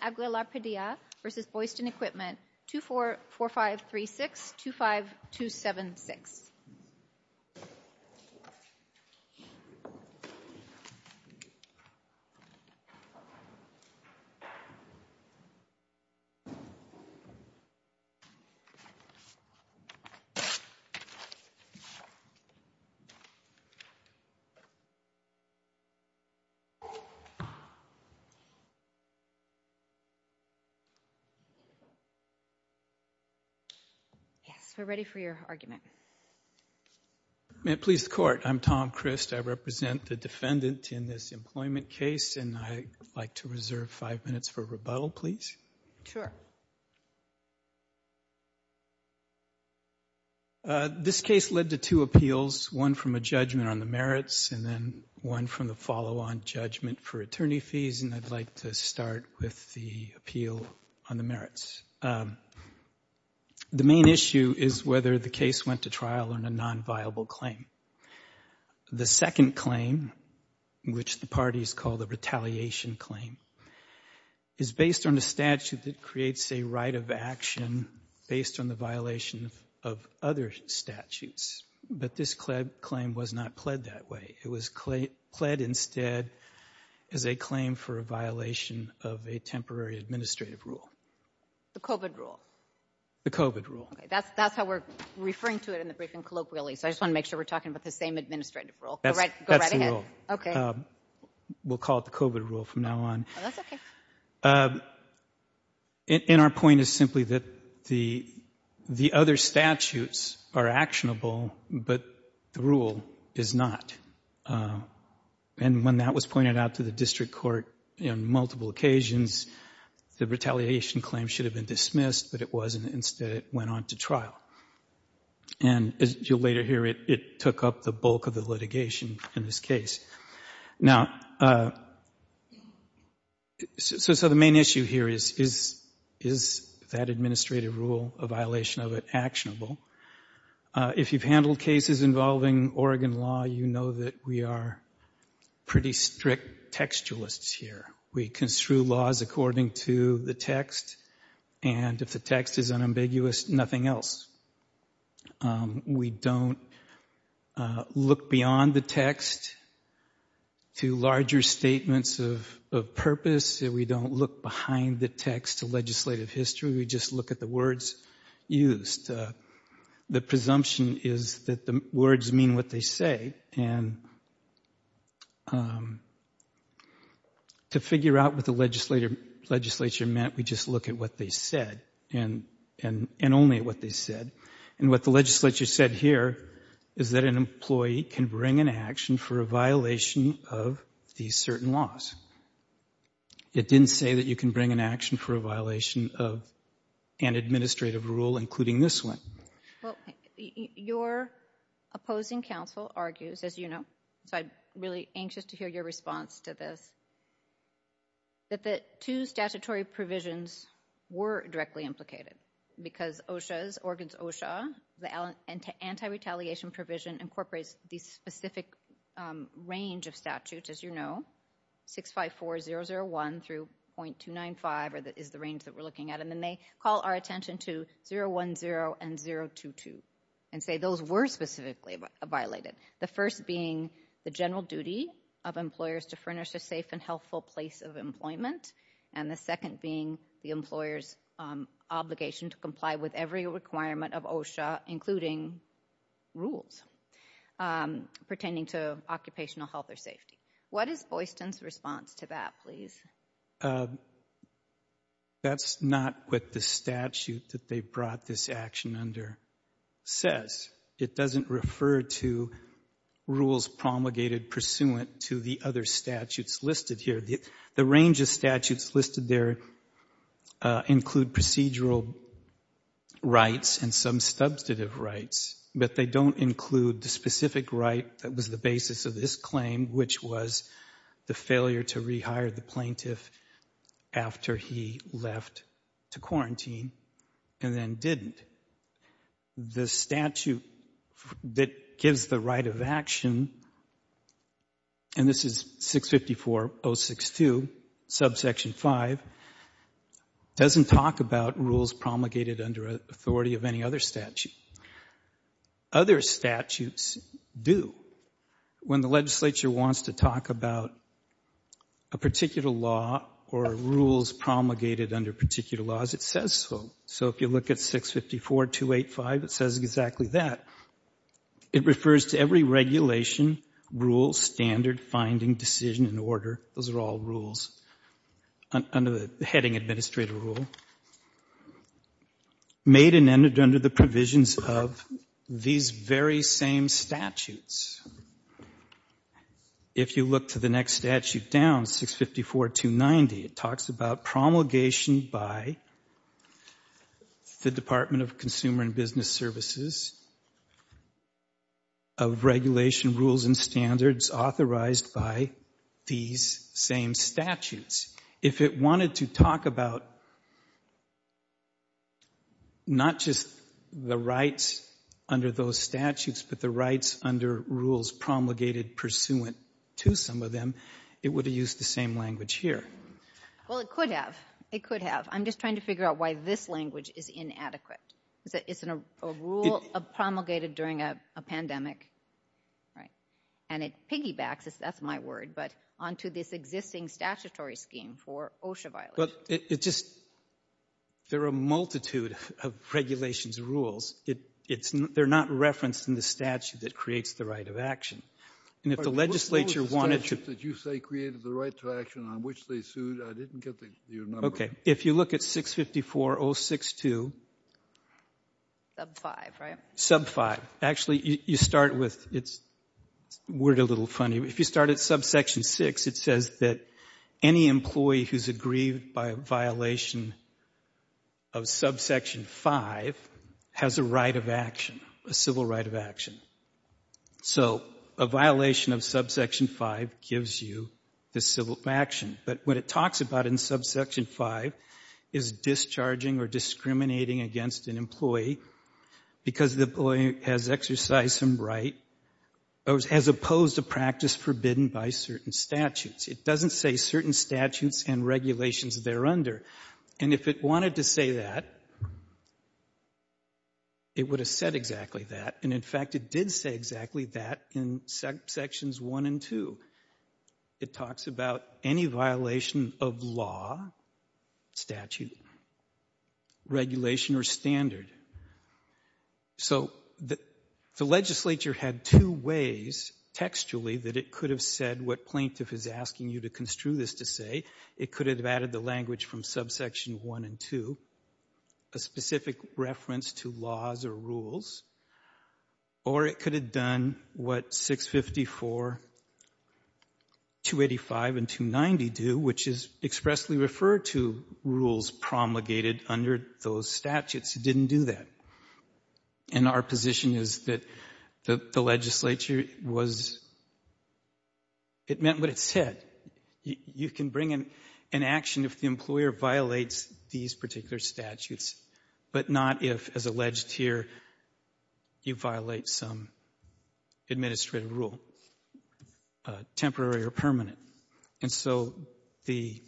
Aguilar-Padilla v. Boydstun Equipment, LLC 244536-25276 Yes, we're ready for your argument. May it please the Court, I'm Tom Christ. I represent the defendant in this employment case, and I'd like to reserve five minutes for rebuttal, please. Sure. This case led to two appeals, one from a judgment on the merits and then one from the follow-on judgment for attorney fees, and I'd like to start with the appeal on the merits. The main issue is whether the case went to trial on a non-viable claim. The second claim, which the parties call the retaliation claim, is based on a statute that creates a right of action based on the violation of other statutes. But this claim was not pled that way. It was pled instead as a claim for a violation of a temporary administrative rule. The COVID rule. The COVID rule. That's how we're referring to it in the briefing, colloquially, so I just want to make sure we're talking about the same administrative rule. That's the rule. Okay. We'll call it the COVID rule from now on. Oh, that's okay. And our point is simply that the other statutes are actionable, but the rule is not. And when that was pointed out to the district court on multiple occasions, the retaliation claim should have been dismissed, but it wasn't. Instead, it went on to trial. And as you'll later hear, it took up the bulk of the litigation in this case. Now, so the main issue here is, is that administrative rule, a violation of it, actionable? If you've handled cases involving Oregon law, you know that we are pretty strict textualists here. We construe laws according to the text, and if the text is unambiguous, nothing else. We don't look beyond the text to larger statements of purpose. We don't look behind the text to legislative history. We just look at the words used. The presumption is that the words mean what they say, and to figure out what the legislature meant, we just look at what they said, and only what they said. And what the legislature said here is that an employee can bring an action for a violation of these certain laws. It didn't say that you can bring an action for a violation of an administrative rule, including this one. Well, your opposing counsel argues, as you know, so I'm really anxious to hear your response to this, that the two statutory provisions were directly implicated, because OSHA's, Oregon's OSHA, the anti-retaliation provision incorporates the specific range of statutes, as you know, 654001 through .295, or that is the range that we're looking at, and then they call our attention to 010 and 022, and say those were specifically violated. The first being the general duty of employers to furnish a safe and healthful place of employment, and the second being the employer's obligation to comply with every requirement of OSHA, including rules pertaining to occupational health or safety. What is Boyston's response to that, please? That's not what the statute that they brought this action under says. It doesn't refer to rules promulgated pursuant to the other statutes listed here. The range of statutes listed there include procedural rights and some substantive rights, but they don't include the specific right that was the basis of this claim, which was the failure to rehire the plaintiff after he left to quarantine, and then didn't. The statute that gives the right of action, and this is 654062, subsection 5, doesn't talk about rules promulgated under authority of any other statute. Other statutes do. When the legislature wants to talk about a particular law or rules promulgated under particular laws, it says so. So if you look at 654285, it says exactly that. It refers to every regulation, rule, standard, finding, decision, and order, those are all rules under the heading administrative rule, made and entered under the provisions of these very same statutes. If you look to the next statute down, 654290, it talks about promulgation by the Department of Consumer and Business Services of regulation rules and standards authorized by these same statutes. If it wanted to talk about not just the rights under those statutes, but the rights under rules promulgated pursuant to some of them, it would have used the same language here. Well, it could have. It could have. I'm just trying to figure out why this language is inadequate. It's a rule promulgated during a pandemic, right? And it piggybacks, that's my word, but onto this existing statutory scheme for OSHA violations. Well, it just — there are a multitude of regulations and rules. They're not referenced in the statute that creates the right of action. And if the legislature wanted to — What was the statute that you say created the right to action on which they sued? I didn't get your number. Okay. If you look at 654062 — Sub 5, right? Sub 5. Actually, you start with — it's a word a little funny. If you start at subsection 6, it says that any employee who's aggrieved by a violation of subsection 5 has a right of action, a civil right of action. So a violation of subsection 5 gives you the civil action. But what it talks about in subsection 5 is discharging or discriminating against an employee because the employee has exercised some right as opposed to practice forbidden by certain statutes. It doesn't say certain statutes and regulations thereunder. And if it wanted to say that, it would have said exactly that. And, in fact, it did say exactly that in sections 1 and 2. It talks about any violation of law, statute, regulation, or standard. So the legislature had two ways textually that it could have said what plaintiff is asking you to construe this to say. It could have added the language from subsection 1 and 2, a specific reference to laws or rules. Or it could have done what 654, 285, and 290 do, which is expressly referred to rules promulgated under those statutes. It didn't do that. And our position is that the legislature was — it meant what it said. You can bring an action if the employer violates these particular statutes, but not if, as alleged here, you violate some administrative rule, temporary or permanent. And so the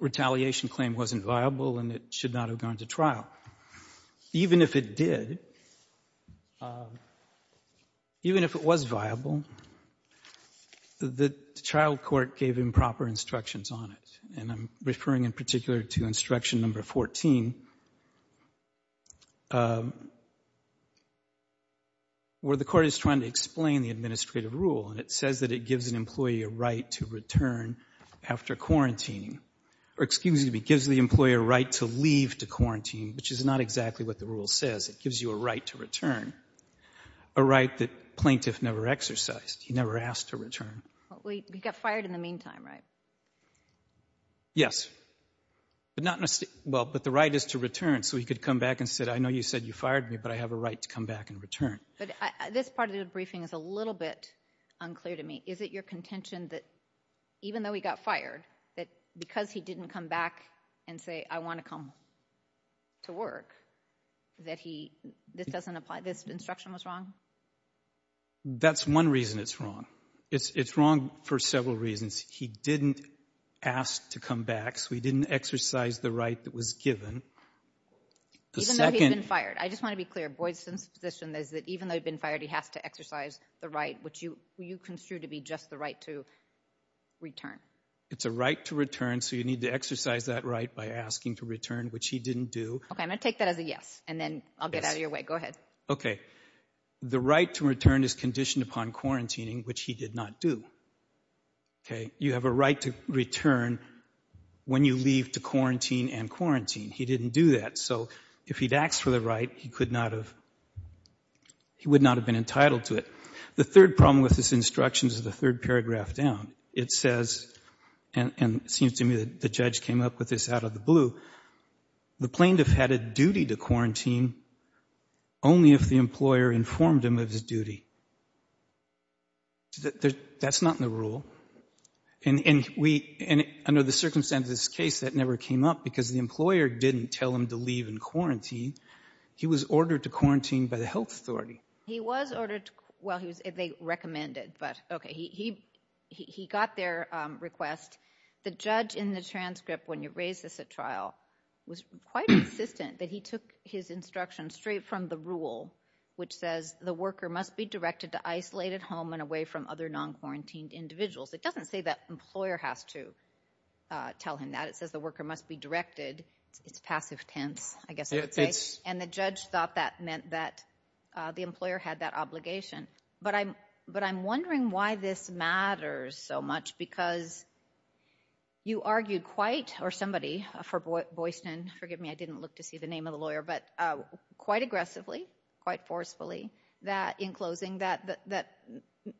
retaliation claim wasn't viable, and it should not have gone to trial. Even if it did, even if it was viable, the child court gave improper instructions on it. And I'm referring in particular to instruction number 14, where the court is trying to explain the administrative rule, and it says that it gives an employee a right to return after quarantining. Or, excuse me, it gives the employer a right to leave to quarantine, which is not exactly what the rule says. It gives you a right to return, a right that plaintiff never exercised. He never asked to return. We got fired in the meantime, right? Yes. But not in a — well, but the right is to return, so he could come back and say, I know you said you fired me, but I have a right to come back and return. But this part of the briefing is a little bit unclear to me. Is it your contention that even though he got fired, that because he didn't come back and say, I want to come to work, that he — this doesn't apply? This instruction was wrong? That's one reason it's wrong. It's wrong for several reasons. He didn't ask to come back, so he didn't exercise the right that was given. The second — Even though he's been fired. I just want to be clear, Boydson's position is that even though he'd been fired, he has to exercise the right, which you construe to be just the right to return. It's a right to return, so you need to exercise that right by asking to return, which he didn't do. OK, I'm going to take that as a yes, and then I'll get out of your way. Go ahead. OK. The right to return is conditioned upon quarantining, which he did not do. You have a right to return when you leave to quarantine and quarantine. He didn't do that. So if he'd asked for the right, he would not have been entitled to it. The third problem with this instruction is the third paragraph down. It says, and it seems to me that the judge came up with this out of the blue, the plaintiff had a duty to quarantine only if the employer informed him of his duty. That's not in the rule. And under the circumstances of this case, that never came up, because the employer didn't tell him to leave and quarantine. He was ordered to quarantine by the health authority. He was ordered, well, they recommended, but OK, he got their request. The judge in the transcript, when you raise this at trial, was quite insistent that he took his instruction straight from the rule, which says the worker must be directed to isolated home and away from other non-quarantined individuals. It doesn't say that employer has to tell him that. It says the worker must be directed. It's passive tense, I guess I would say. And the judge thought that meant that the employer had that obligation. But I'm wondering why this matters so much, because you argued quite, or somebody for Boyston, forgive me, I didn't look to see the name of the lawyer, but quite aggressively, quite forcefully, that in closing, that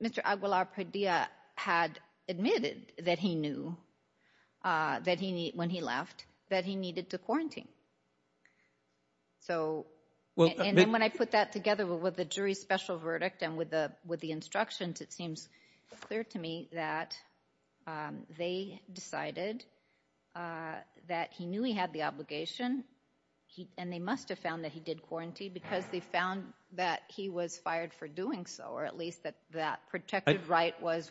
Mr. Aguilar Padilla had admitted that he knew when he left, that he needed to quarantine. And then when I put that together with the jury's special verdict and with the instructions, it seems clear to me that they decided that he knew he had the obligation, and they must have found that he did quarantine, because they found that he was fired for doing so, or at least that protected right was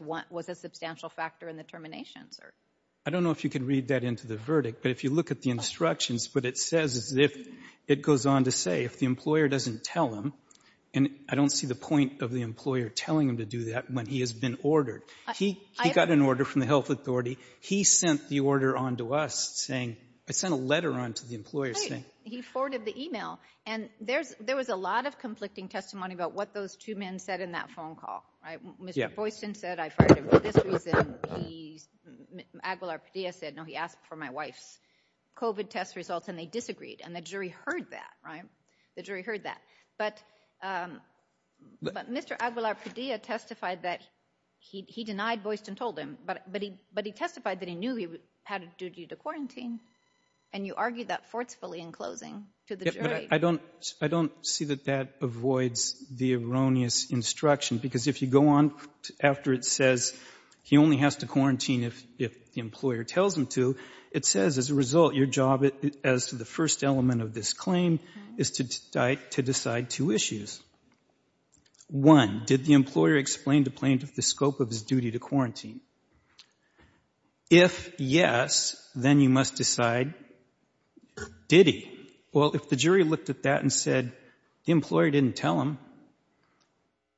a substantial factor in the termination. I don't know if you can read that into the verdict, but if you look at the instructions, what it says is it goes on to say, if the employer doesn't tell him, and I don't see the point of the employer telling him to do that when he has been ordered. He got an order from the health authority. He sent the order on to us saying—I sent a letter on to the employer saying— Right. He forwarded the email. And there was a lot of conflicting testimony about what those two men said in that phone call, right? Yeah. Mr. Boyston said, I fired him for this reason. Aguilar Padilla said, no, he asked for my wife's COVID test results, and they disagreed, and the jury heard that, right? The jury heard that. But Mr. Aguilar Padilla testified that he denied Boyston told him, but he testified that he knew he had a duty to quarantine, and you argued that forcefully in closing to the jury. I don't see that that avoids the erroneous instruction, because if you go on after it says he only has to quarantine if the employer tells him to, it says, as a result, your job, as to the first element of this claim, is to decide two issues. One, did the employer explain to plaintiff the scope of his duty to quarantine? If yes, then you must decide, did he? Well, if the jury looked at that and said the employer didn't tell him,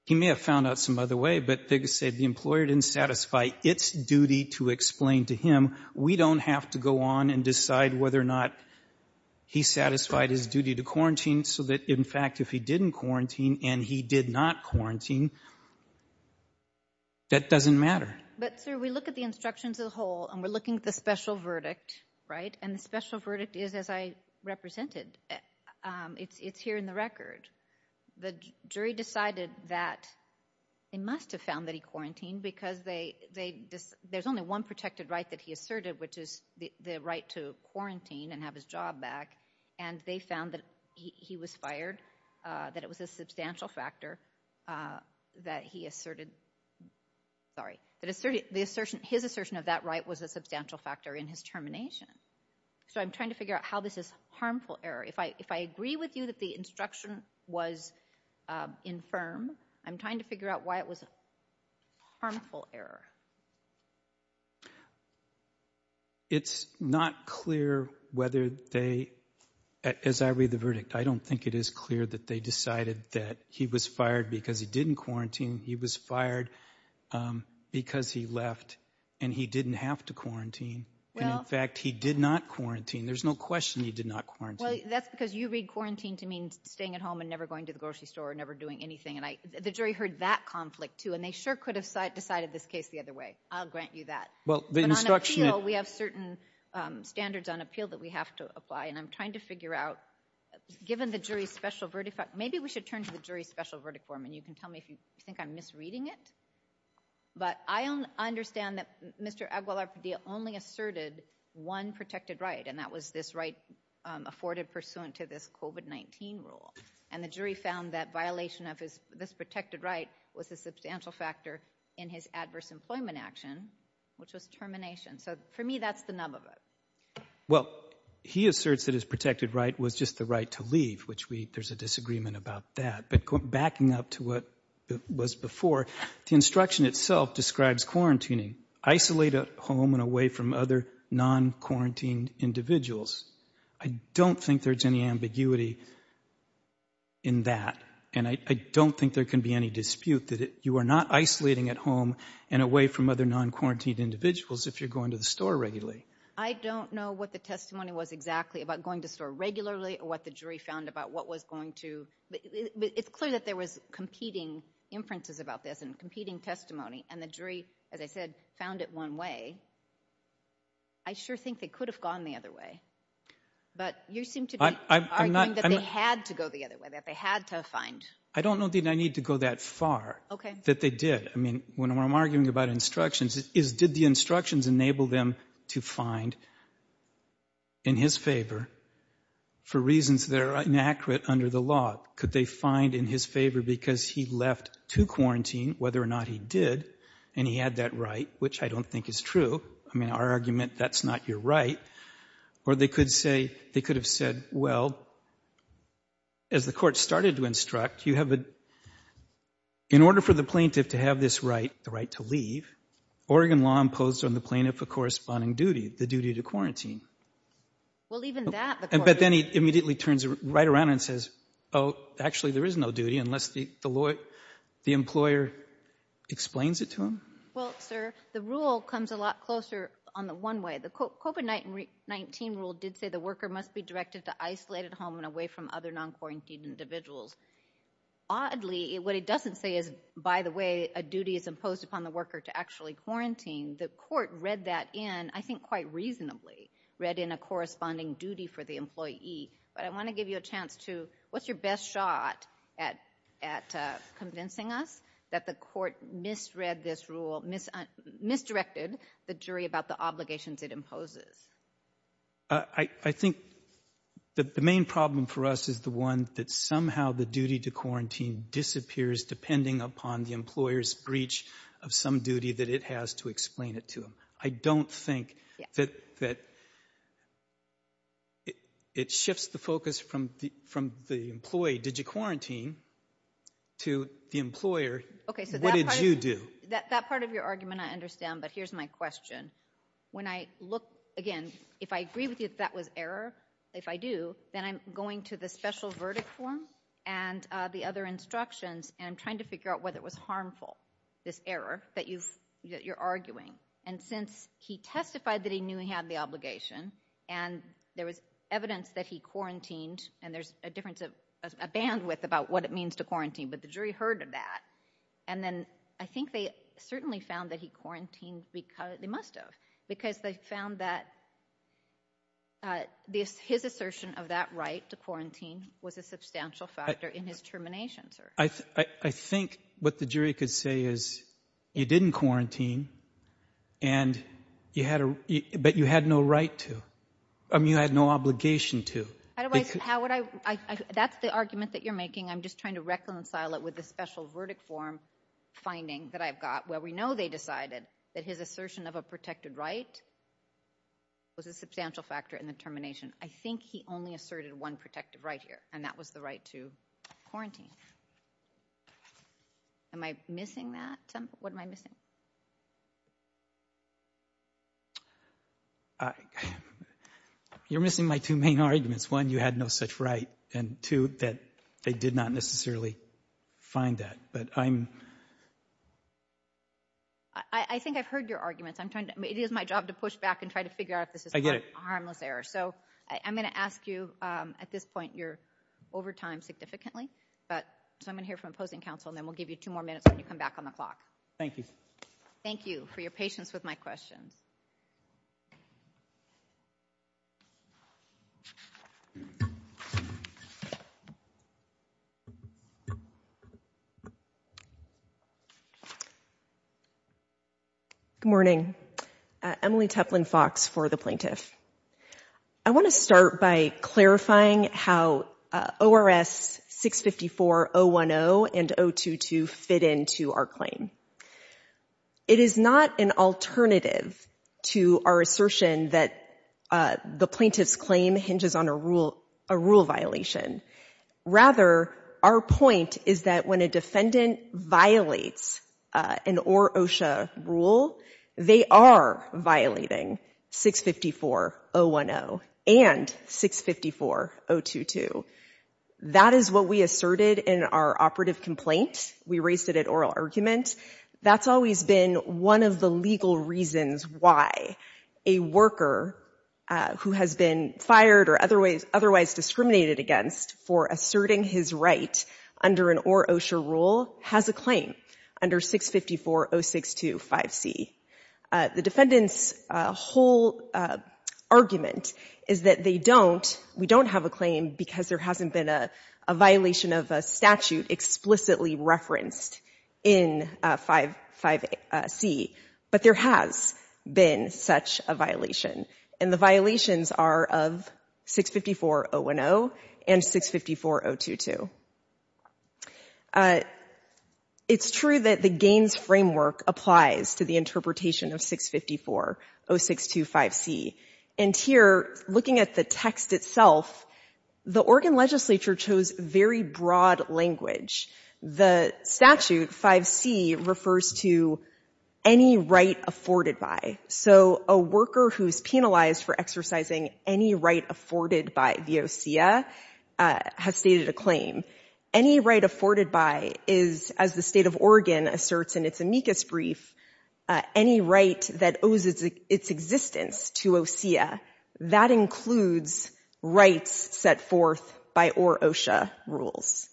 he may have found out some other way, but they could say the employer didn't satisfy its duty to explain to him. We don't have to go on and decide whether or not he satisfied his duty to quarantine so that, in fact, if he didn't quarantine and he did not quarantine, that doesn't matter. But, sir, we look at the instructions as a whole and we're looking at the special verdict, right? And the special verdict is as I represented. It's here in the record. The jury decided that they must have found that he quarantined because there's only one protected right that he asserted, which is the right to quarantine and have his job back, and they found that he was fired, that it was a substantial factor that he asserted. Sorry. His assertion of that right was a substantial factor in his termination. So I'm trying to figure out how this is harmful error. If I agree with you that the instruction was infirm, I'm trying to figure out why it was a harmful error. It's not clear whether they, as I read the verdict, I don't think it is clear that they decided that he was fired because he didn't quarantine. He was fired because he left and he didn't have to quarantine. And, in fact, he did not quarantine. There's no question he did not quarantine. Well, that's because you read quarantine to mean staying at home and never going to the grocery store or never doing anything. And the jury heard that conflict, too, and they sure could have decided this case the other way. I'll grant you that. But on appeal, we have certain standards on appeal that we have to apply, and I'm trying to figure out, given the jury's special verdict, maybe we should turn to the jury's special verdict form, and you can tell me if you think I'm misreading it. But I understand that Mr. Aguilar-Padilla only asserted one protected right, and that was this right afforded pursuant to this COVID-19 rule. And the jury found that violation of this protected right was a substantial factor in his adverse employment action, which was termination. So, for me, that's the nub of it. Well, he asserts that his protected right was just the right to leave, which there's a disagreement about that. But backing up to what was before, the instruction itself describes quarantining, isolate at home and away from other non-quarantined individuals. I don't think there's any ambiguity in that, and I don't think there can be any dispute that you are not isolating at home and away from other non-quarantined individuals if you're going to the store regularly. I don't know what the testimony was exactly about going to the store regularly or what the jury found about what was going to... It's clear that there was competing inferences about this and competing testimony, and the jury, as I said, found it one way. I sure think they could have gone the other way. But you seem to be arguing that they had to go the other way, that they had to find... I don't know that I need to go that far. OK. That they did. I mean, what I'm arguing about instructions is did the instructions enable them to find, in his favour, for reasons that are inaccurate under the law, could they find in his favour because he left to quarantine, whether or not he did, and he had that right, which I don't think is true. I mean, our argument, that's not your right. Or they could have said, well, as the court started to instruct, you have a... In order for the plaintiff to have this right, the right to leave, Oregon law imposed on the plaintiff a corresponding duty, the duty to quarantine. Well, even that... But then he immediately turns right around and says, oh, actually, there is no duty unless the employer explains it to him. Well, sir, the rule comes a lot closer on the one way. The COVID-19 rule did say the worker must be directed to isolated home and away from other non-quarantined individuals. Oddly, what it doesn't say is, by the way, a duty is imposed upon the worker to actually quarantine. The court read that in, I think quite reasonably, read in a corresponding duty for the employee. But I want to give you a chance to... What's your best shot at convincing us that the court misread this rule, misdirected the jury about the obligations it imposes? I think the main problem for us is the one that somehow the duty to quarantine disappears depending upon the employer's breach of some duty that it has to explain it to him. I don't think that... It shifts the focus from the employee. Did you quarantine? To the employer, what did you do? That part of your argument I understand, but here's my question. When I look, again, if I agree with you that that was error, if I do, then I'm going to the special verdict form and the other instructions and trying to figure out whether it was harmful, this error that you're arguing. And since he testified that he knew he had the obligation and there was evidence that he quarantined and there's a difference of... a bandwidth about what it means to quarantine, but the jury heard of that. And then I think they certainly found that he quarantined... They must have, because they found that his assertion of that right to quarantine was a substantial factor in his termination, sir. I think what the jury could say is you didn't quarantine and you had a... But you had no right to. I mean, you had no obligation to. Otherwise, how would I... That's the argument that you're making. I'm just trying to reconcile it with the special verdict form finding that I've got where we know they decided that his assertion of a protected right was a substantial factor in the termination. I think he only asserted one protective right here, and that was the right to quarantine. Am I missing that, Tim? What am I missing? You're missing my two main arguments. One, you had no such right, and two, that they did not necessarily find that. But I'm... I think I've heard your arguments. It is my job to push back and try to figure out if this is a harmless error. So I'm going to ask you... At this point, you're over time significantly, but I'm going to hear from opposing counsel, and then we'll give you two more minutes when you come back on the clock. Thank you. Thank you for your patience with my questions. Good morning. Emily Tuplin Fox for the plaintiff. I want to start by clarifying how ORS 654-010 and 022 fit into our claim. It is not an alternative to our assertion that the plaintiff's claim hinges on a rule violation. Rather, our point is that when a defendant violates an OR-OSHA rule, they are violating 654-010 and 654-022. That is what we asserted in our operative complaint. We raised it at oral argument. That's always been one of the legal reasons why a worker who has been fired or otherwise discriminated against for asserting his right under an OR-OSHA rule has a claim under 654-062-5C. The defendant's whole argument is that they don't, we don't have a claim because there hasn't been a violation of a statute explicitly referenced in 55C, but there has been such a violation, and the violations are of 654-010 and 654-022. It's true that the GAINS framework applies to the interpretation of 654-062-5C. And here, looking at the text itself, the Oregon legislature chose very broad language. The statute, 5C, refers to any right afforded by. So a worker who is penalized for exercising any right afforded by the OSEA has stated a claim. Any right afforded by is, as the state of Oregon asserts in its amicus brief, any right that owes its existence to OSEA. That includes rights set forth by OR-OSHA rules.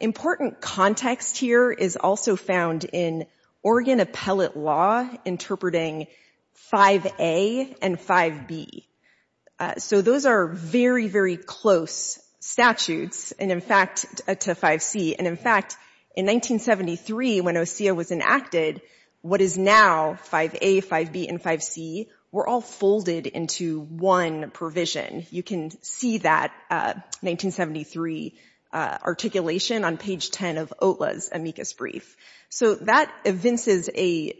Important context here is also found in Oregon appellate law interpreting 5A and 5B. So those are very, very close statutes to 5C. And in fact, in 1973, when OSEA was enacted, what is now 5A, 5B, and 5C were all folded into one provision. You can see that 1973 articulation on page 10 of OTLA's amicus brief. So that evinces a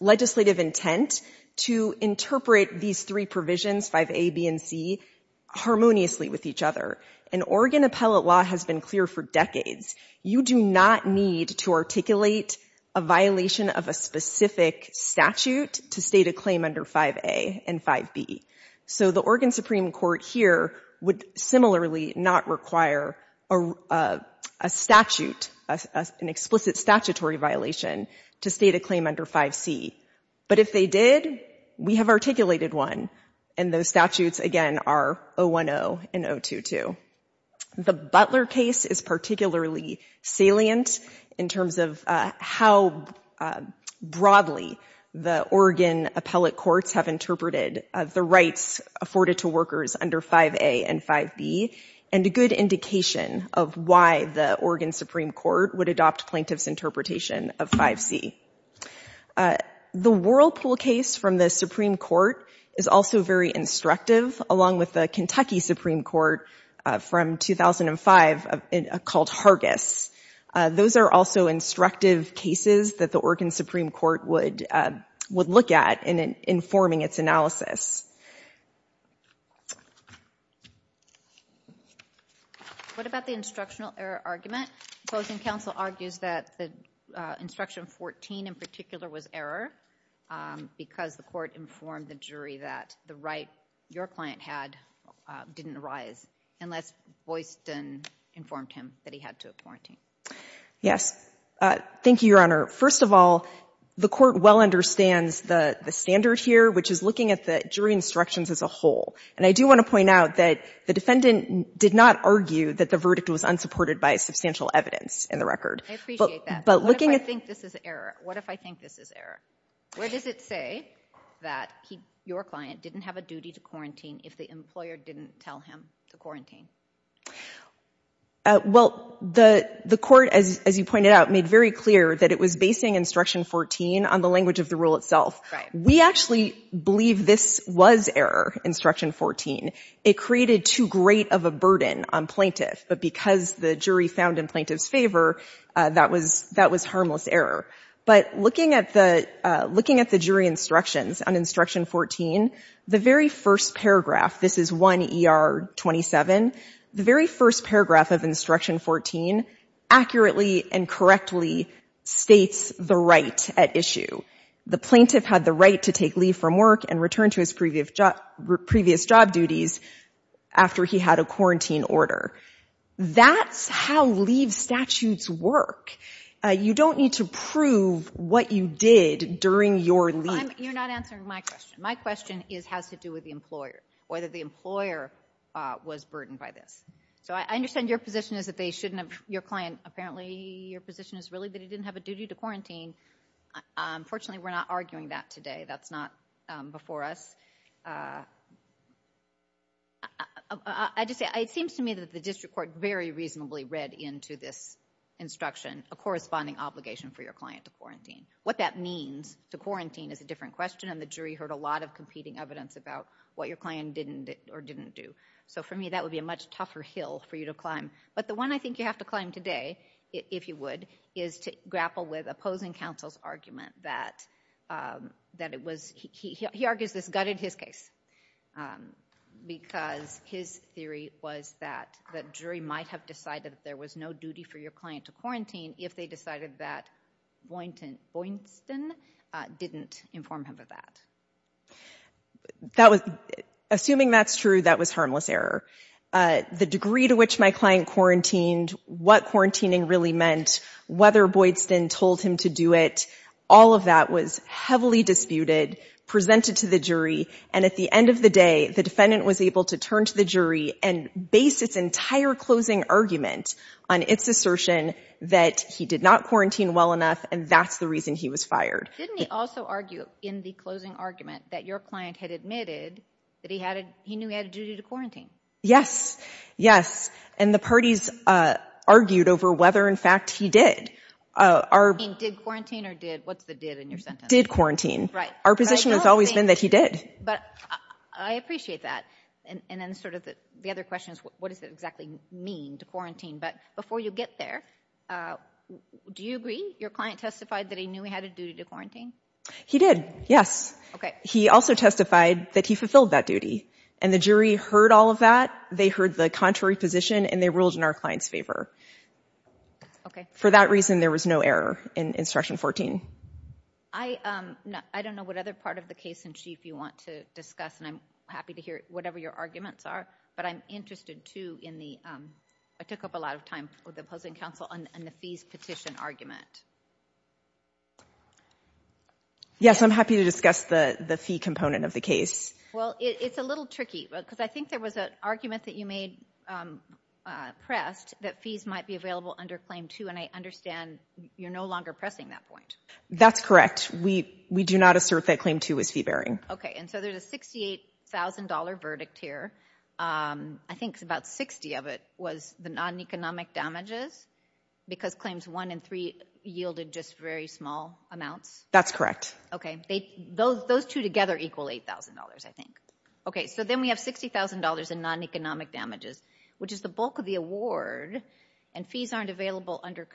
legislative intent to interpret these three provisions, 5A, B, and C, harmoniously with each other. And Oregon appellate law has been clear for decades. You do not need to articulate a violation of a specific statute to state a claim under 5A and 5B. So the Oregon Supreme Court here would similarly not require a statute, an explicit statutory violation, to state a claim under 5C. But if they did, we have articulated one, and those statutes, again, are 010 and 022. The Butler case is particularly salient in terms of how broadly the Oregon appellate courts have interpreted the rights afforded to workers under 5A and 5B, and a good indication of why the Oregon Supreme Court would adopt plaintiff's interpretation of 5C. The Whirlpool case from the Supreme Court is also very instructive, along with the Kentucky Supreme Court from 2005 called Hargis. Those are also instructive cases that the Oregon Supreme Court would look at in informing its analysis. What about the instructional error argument? Closing counsel argues that the instruction 14 in particular was error because the court informed the jury that the right your client had didn't arise unless Boyston informed him that he had to quarantine. Yes. Thank you, Your Honor. First of all, the court well understands the standard here, which is looking at the jury instructions as a whole, and I do want to point out that the defendant did not argue that the verdict was unsupported by substantial evidence in the record. I appreciate that, but what if I think this is error? What does it say that your client didn't have a duty to quarantine if the employer didn't tell him to quarantine? Well, the court, as you pointed out, made very clear that it was basing instruction 14 on the language of the rule itself. We actually believe this was error, instruction 14. It created too great of a burden on plaintiff, but because the jury found in plaintiff's favor, that was harmless error. But looking at the jury instructions on instruction 14, the very first paragraph, this is 1 ER 27, the very first paragraph of instruction 14 accurately and correctly states the right at issue. The plaintiff had the right to take leave from work and return to his previous job duties after he had a quarantine order. That's how leave statutes work. You don't need to prove what you did during your leave. You're not answering my question. My question has to do with the employer, whether the employer was burdened by this. So I understand your position is that they shouldn't have, your client, apparently your position is really that he didn't have a duty to quarantine. Unfortunately, we're not arguing that today. That's not before us. I just say, it seems to me that the district court very reasonably read into this instruction a corresponding obligation for your client to quarantine. What that means to quarantine is a different question, and the jury heard a lot of competing evidence about what your client did or didn't do. So for me, that would be a much tougher hill for you to climb. But the one I think you have to climb today, if you would, is to grapple with opposing counsel's argument that it was, he argues this gutted his case, because his theory was that the jury might have decided that there was no duty for your client to quarantine if they decided that Boynton didn't inform him of that. Assuming that's true, that was harmless error. The degree to which my client quarantined, what quarantining really meant, whether Boydston told him to do it, all of that was heavily disputed, presented to the jury, and at the end of the day, the defendant was able to turn to the jury and base its entire closing argument on its assertion that he did not quarantine well enough, and that's the reason he was fired. Didn't he also argue in the closing argument that your client had admitted that he knew he had a duty to quarantine? Yes, yes. And the parties argued over whether, in fact, he did. Did quarantine or did, what's the did in your sentence? Did quarantine. Our position has always been that he did. But I appreciate that. And then sort of the other question is, what does it exactly mean to quarantine? But before you get there, do you agree your client testified that he knew he had a duty to quarantine? He did, yes. He also testified that he fulfilled that duty, and the jury heard all of that. They heard the contrary position, and they ruled in our client's favor. Okay. For that reason, there was no error in Instruction 14. I don't know what other part of the case in chief you want to discuss, and I'm happy to hear whatever your arguments are, but I'm interested, too, in the ‑‑ I took up a lot of time with the opposing counsel on the fees petition argument. Yes, I'm happy to discuss the fee component of the case. Well, it's a little tricky, because I think there was an argument that you made pressed that fees might be available under Claim 2, and I understand you're no longer pressing that point. That's correct. We do not assert that Claim 2 is fee‑bearing. Okay. And so there's a $68,000 verdict here. I think about 60 of it was the non‑economic damages, because Claims 1 and 3 yielded just very small amounts. That's correct. Okay. Those two together equal $8,000, I think. Okay, so then we have $60,000 in non‑economic damages, which is the bulk of the award, and fees aren't available under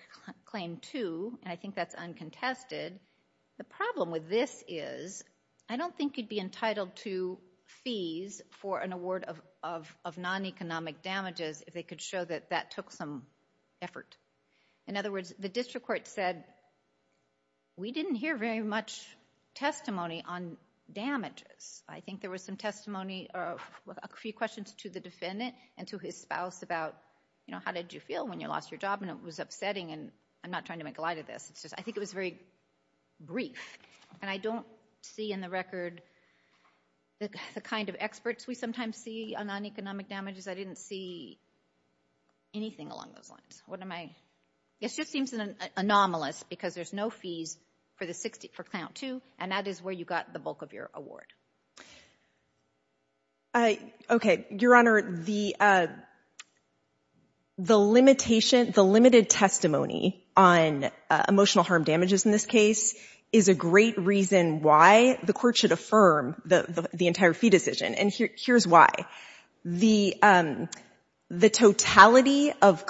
Claim 2, and I think that's uncontested. The problem with this is, I don't think you'd be entitled to fees for an award of non‑economic damages if they could show that that took some effort. In other words, the district court said, we didn't hear very much testimony on damages. I think there was some testimony, a few questions to the defendant and to his spouse about, you know, how did you feel when you lost your job, and it was upsetting, and I'm not trying to make light of this. I think it was very brief, and I don't see in the record the kind of experts we sometimes see on non‑economic damages. I didn't see anything along those lines. It just seems anomalous, because there's no fees for Client 2, and that is where you got the bulk of your award. Okay, Your Honor, the limited testimony on emotional harm damages in this case is a great reason why the court should affirm the entire fee decision, and here's why. The totality of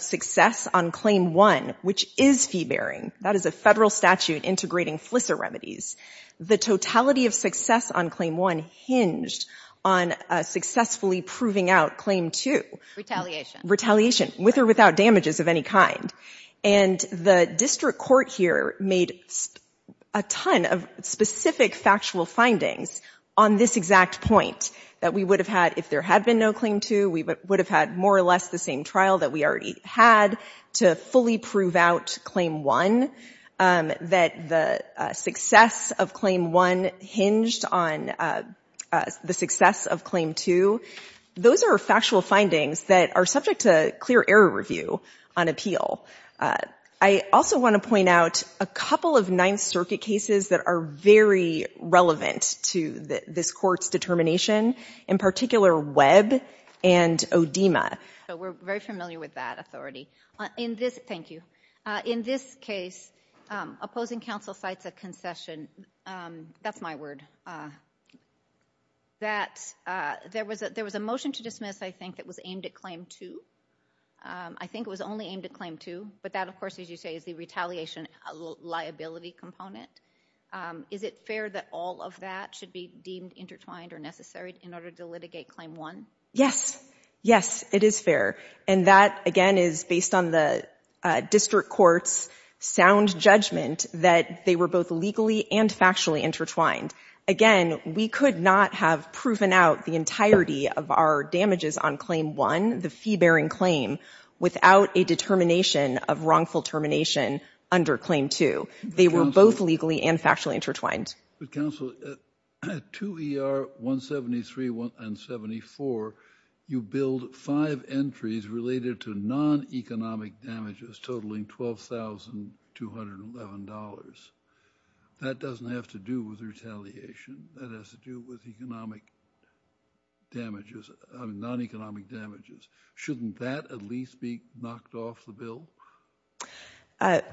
success on Claim 1, which is fee‑bearing, that is a federal statute integrating FLISA remedies, the totality of success on Claim 1 hinged on successfully proving out Claim 2. Retaliation. Retaliation, with or without damages of any kind, and the district court here made a ton of specific factual findings on this exact point, that we would have had, if there had been no Claim 2, we would have had more or less the same trial that we already had to fully prove out Claim 1, that the success of Claim 1 hinged on the success of Claim 2. Those are factual findings that are subject to clear error review on appeal. I also want to point out a couple of Ninth Circuit cases that are very relevant to this court's determination, in particular Webb and Odema. We're very familiar with that authority. Thank you. In this case, opposing counsel cites a concession. That's my word. There was a motion to dismiss, I think, that was aimed at Claim 2. I think it was only aimed at Claim 2, but that, of course, as you say, is the retaliation liability component. Is it fair that all of that should be deemed intertwined or necessary in order to litigate Claim 1? Yes. Yes, it is fair. And that, again, is based on the district court's sound judgment that they were both legally and factually intertwined. Again, we could not have proven out the entirety of our damages on Claim 1, the fee-bearing claim, without a determination of wrongful termination under Claim 2. They were both legally and factually intertwined. But, counsel, at 2 ER 173 and 74, you billed five entries related to non-economic damages totaling $12,211. That doesn't have to do with retaliation. That has to do with economic damages, non-economic damages. Shouldn't that at least be knocked off the bill?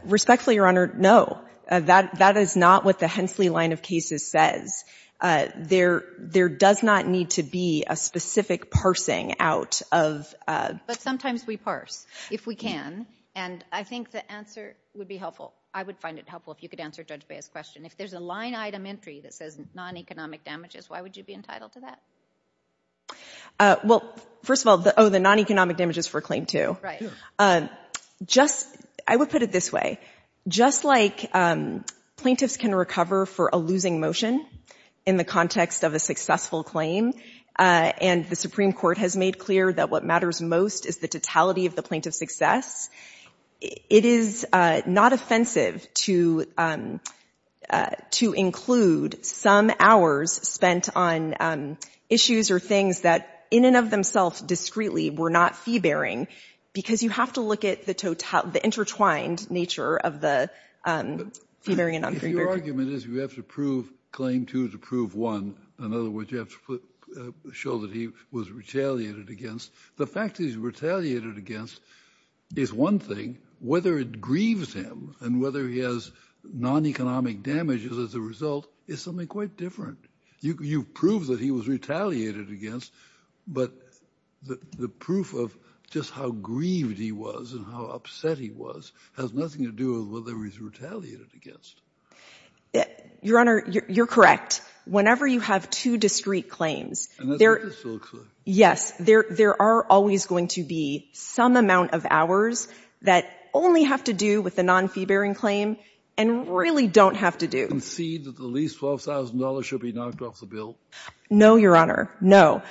Respectfully, Your Honor, no. That is not what the Hensley line of cases says. There does not need to be a specific parsing out of... But sometimes we parse, if we can. And I think the answer would be helpful. I would find it helpful if you could answer Judge Bea's question. If there's a line-item entry that says non-economic damages, why would you be entitled to that? Well, first of all, the non-economic damages for Claim 2. I would put it this way. Just like plaintiffs can recover for a losing motion in the context of a successful claim, and the Supreme Court has made clear that what matters most is the totality of the plaintiff's success, it is not offensive to include some hours spent on issues or things that in and of themselves discreetly were not fee-bearing, because you have to look at the intertwined nature of the fee-bearing and non-fee-bearing. Your argument is you have to prove Claim 2 to prove 1. In other words, you have to show that he was retaliated against. The fact that he's retaliated against is one thing. Whether it grieves him, and whether he has non-economic damages as a result, is something quite different. You've proved that he was retaliated against, but the proof of just how grieved he was and how upset he was has nothing to do with whether he's retaliated against. Your Honor, you're correct. Whenever you have two discreet claims... And that's what this looks like. Yes, there are always going to be some amount of hours that only have to do with the non-fee-bearing claim and really don't have to do. Do you concede that the least $12,000 should be knocked off the bill? No, Your Honor, no.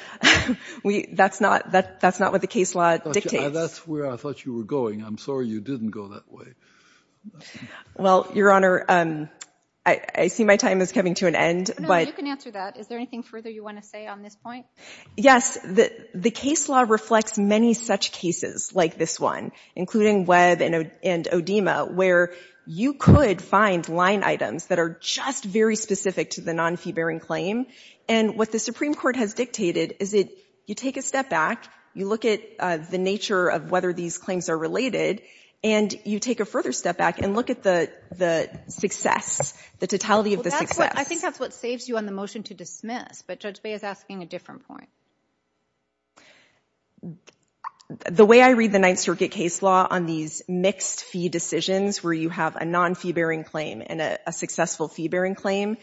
That's not what the case law dictates. That's where I thought you were going. I'm sorry you didn't go that way. Well, Your Honor, I see my time is coming to an end, but... You can answer that. Is there anything further you want to say on this point? Yes. The case law reflects many such cases like this one, including Webb and Odema, where you could find line items that are just very specific to the non-fee-bearing claim. And what the Supreme Court has dictated is that you take a step back, you look at the nature of whether these claims are related, and you take a further step back and look at the success, the totality of the success. I think that's what saves you on the motion to dismiss, but Judge Bay is asking a different point. The way I read the Ninth Circuit case law on these mixed-fee decisions where you have a non-fee-bearing claim and a successful fee-bearing claim,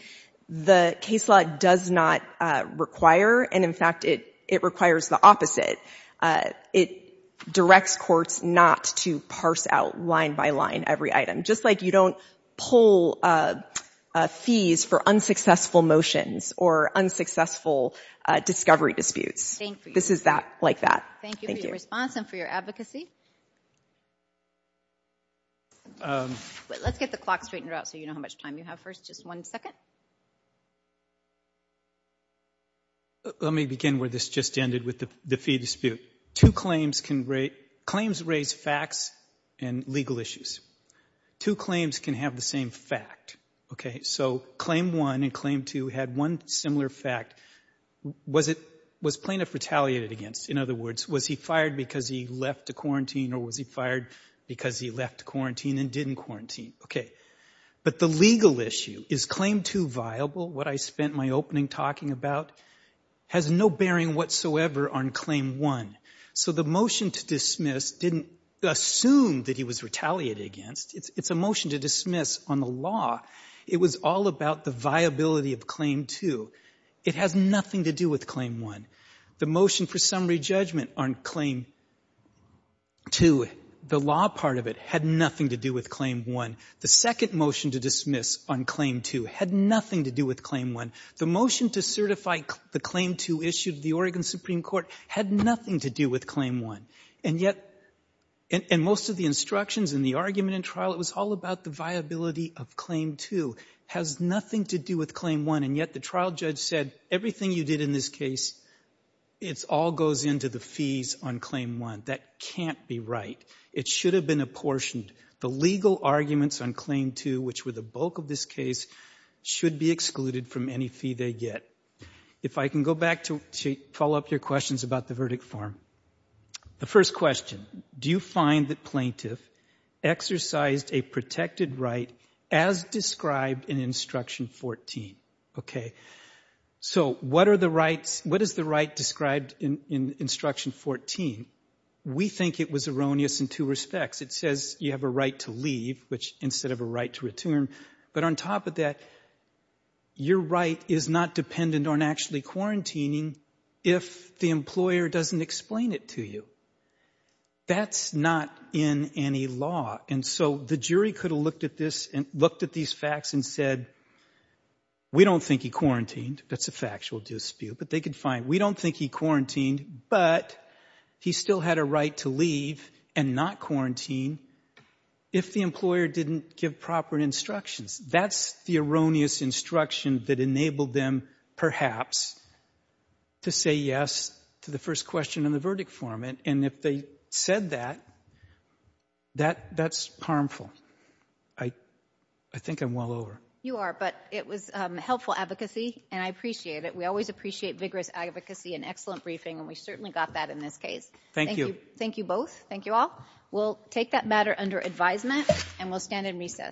the case law does not require, and in fact it requires the opposite. It directs courts not to parse out line by line every item, just like you don't pull fees for unsuccessful motions or unsuccessful discovery disputes. This is like that. Thank you for your response and for your advocacy. Let's get the clock straightened out so you know how much time you have first. Just one second. Let me begin where this just ended with the fee dispute. Claims raise facts and legal issues. Two claims can have the same fact, okay? So Claim 1 and Claim 2 had one similar fact. Was Plaintiff retaliated against? In other words, was he fired because he left to quarantine or was he fired because he left to quarantine and didn't quarantine? Okay. But the legal issue, is Claim 2 viable, what I spent my opening talking about, has no bearing whatsoever on Claim 1. So the motion to dismiss didn't assume that he was retaliated against. It's a motion to dismiss on the law. It was all about the viability of Claim 2. It has nothing to do with Claim 1. The motion for summary judgment on Claim 2, the law part of it, had nothing to do with Claim 1. The second motion to dismiss on Claim 2 had nothing to do with Claim 1. The motion to certify the Claim 2 issued to the Oregon Supreme Court had nothing to do with Claim 1. And yet, in most of the instructions and the argument in trial, it was all about the viability of Claim 2. It has nothing to do with Claim 1, and yet the trial judge said, everything you did in this case, it all goes into the fees on Claim 1. That can't be right. It should have been apportioned. The legal arguments on Claim 2, which were the bulk of this case, should be excluded from any fee they get. If I can go back to follow up your questions about the verdict form. The first question, do you find the plaintiff exercised a protected right as described in Instruction 14? So what is the right described in Instruction 14? We think it was erroneous in two respects. It says you have a right to leave, instead of a right to return. But on top of that, your right is not dependent on actually quarantining if the employer doesn't explain it to you. That's not in any law. And so the jury could have looked at these facts and said, we don't think he quarantined. That's a factual dispute, but they could find, we don't think he quarantined, but he still had a right to leave and not quarantine if the employer didn't give proper instructions. That's the erroneous instruction that enabled them, perhaps, to say yes to the first question in the verdict form. And if they said that, that's harmful. I think I'm well over. You are, but it was helpful advocacy, and I appreciate it. We always appreciate vigorous advocacy and excellent briefing, and we certainly got that in this case. Thank you. Thank you both. Thank you all. We'll take that matter under advisement, and we'll stand in recess.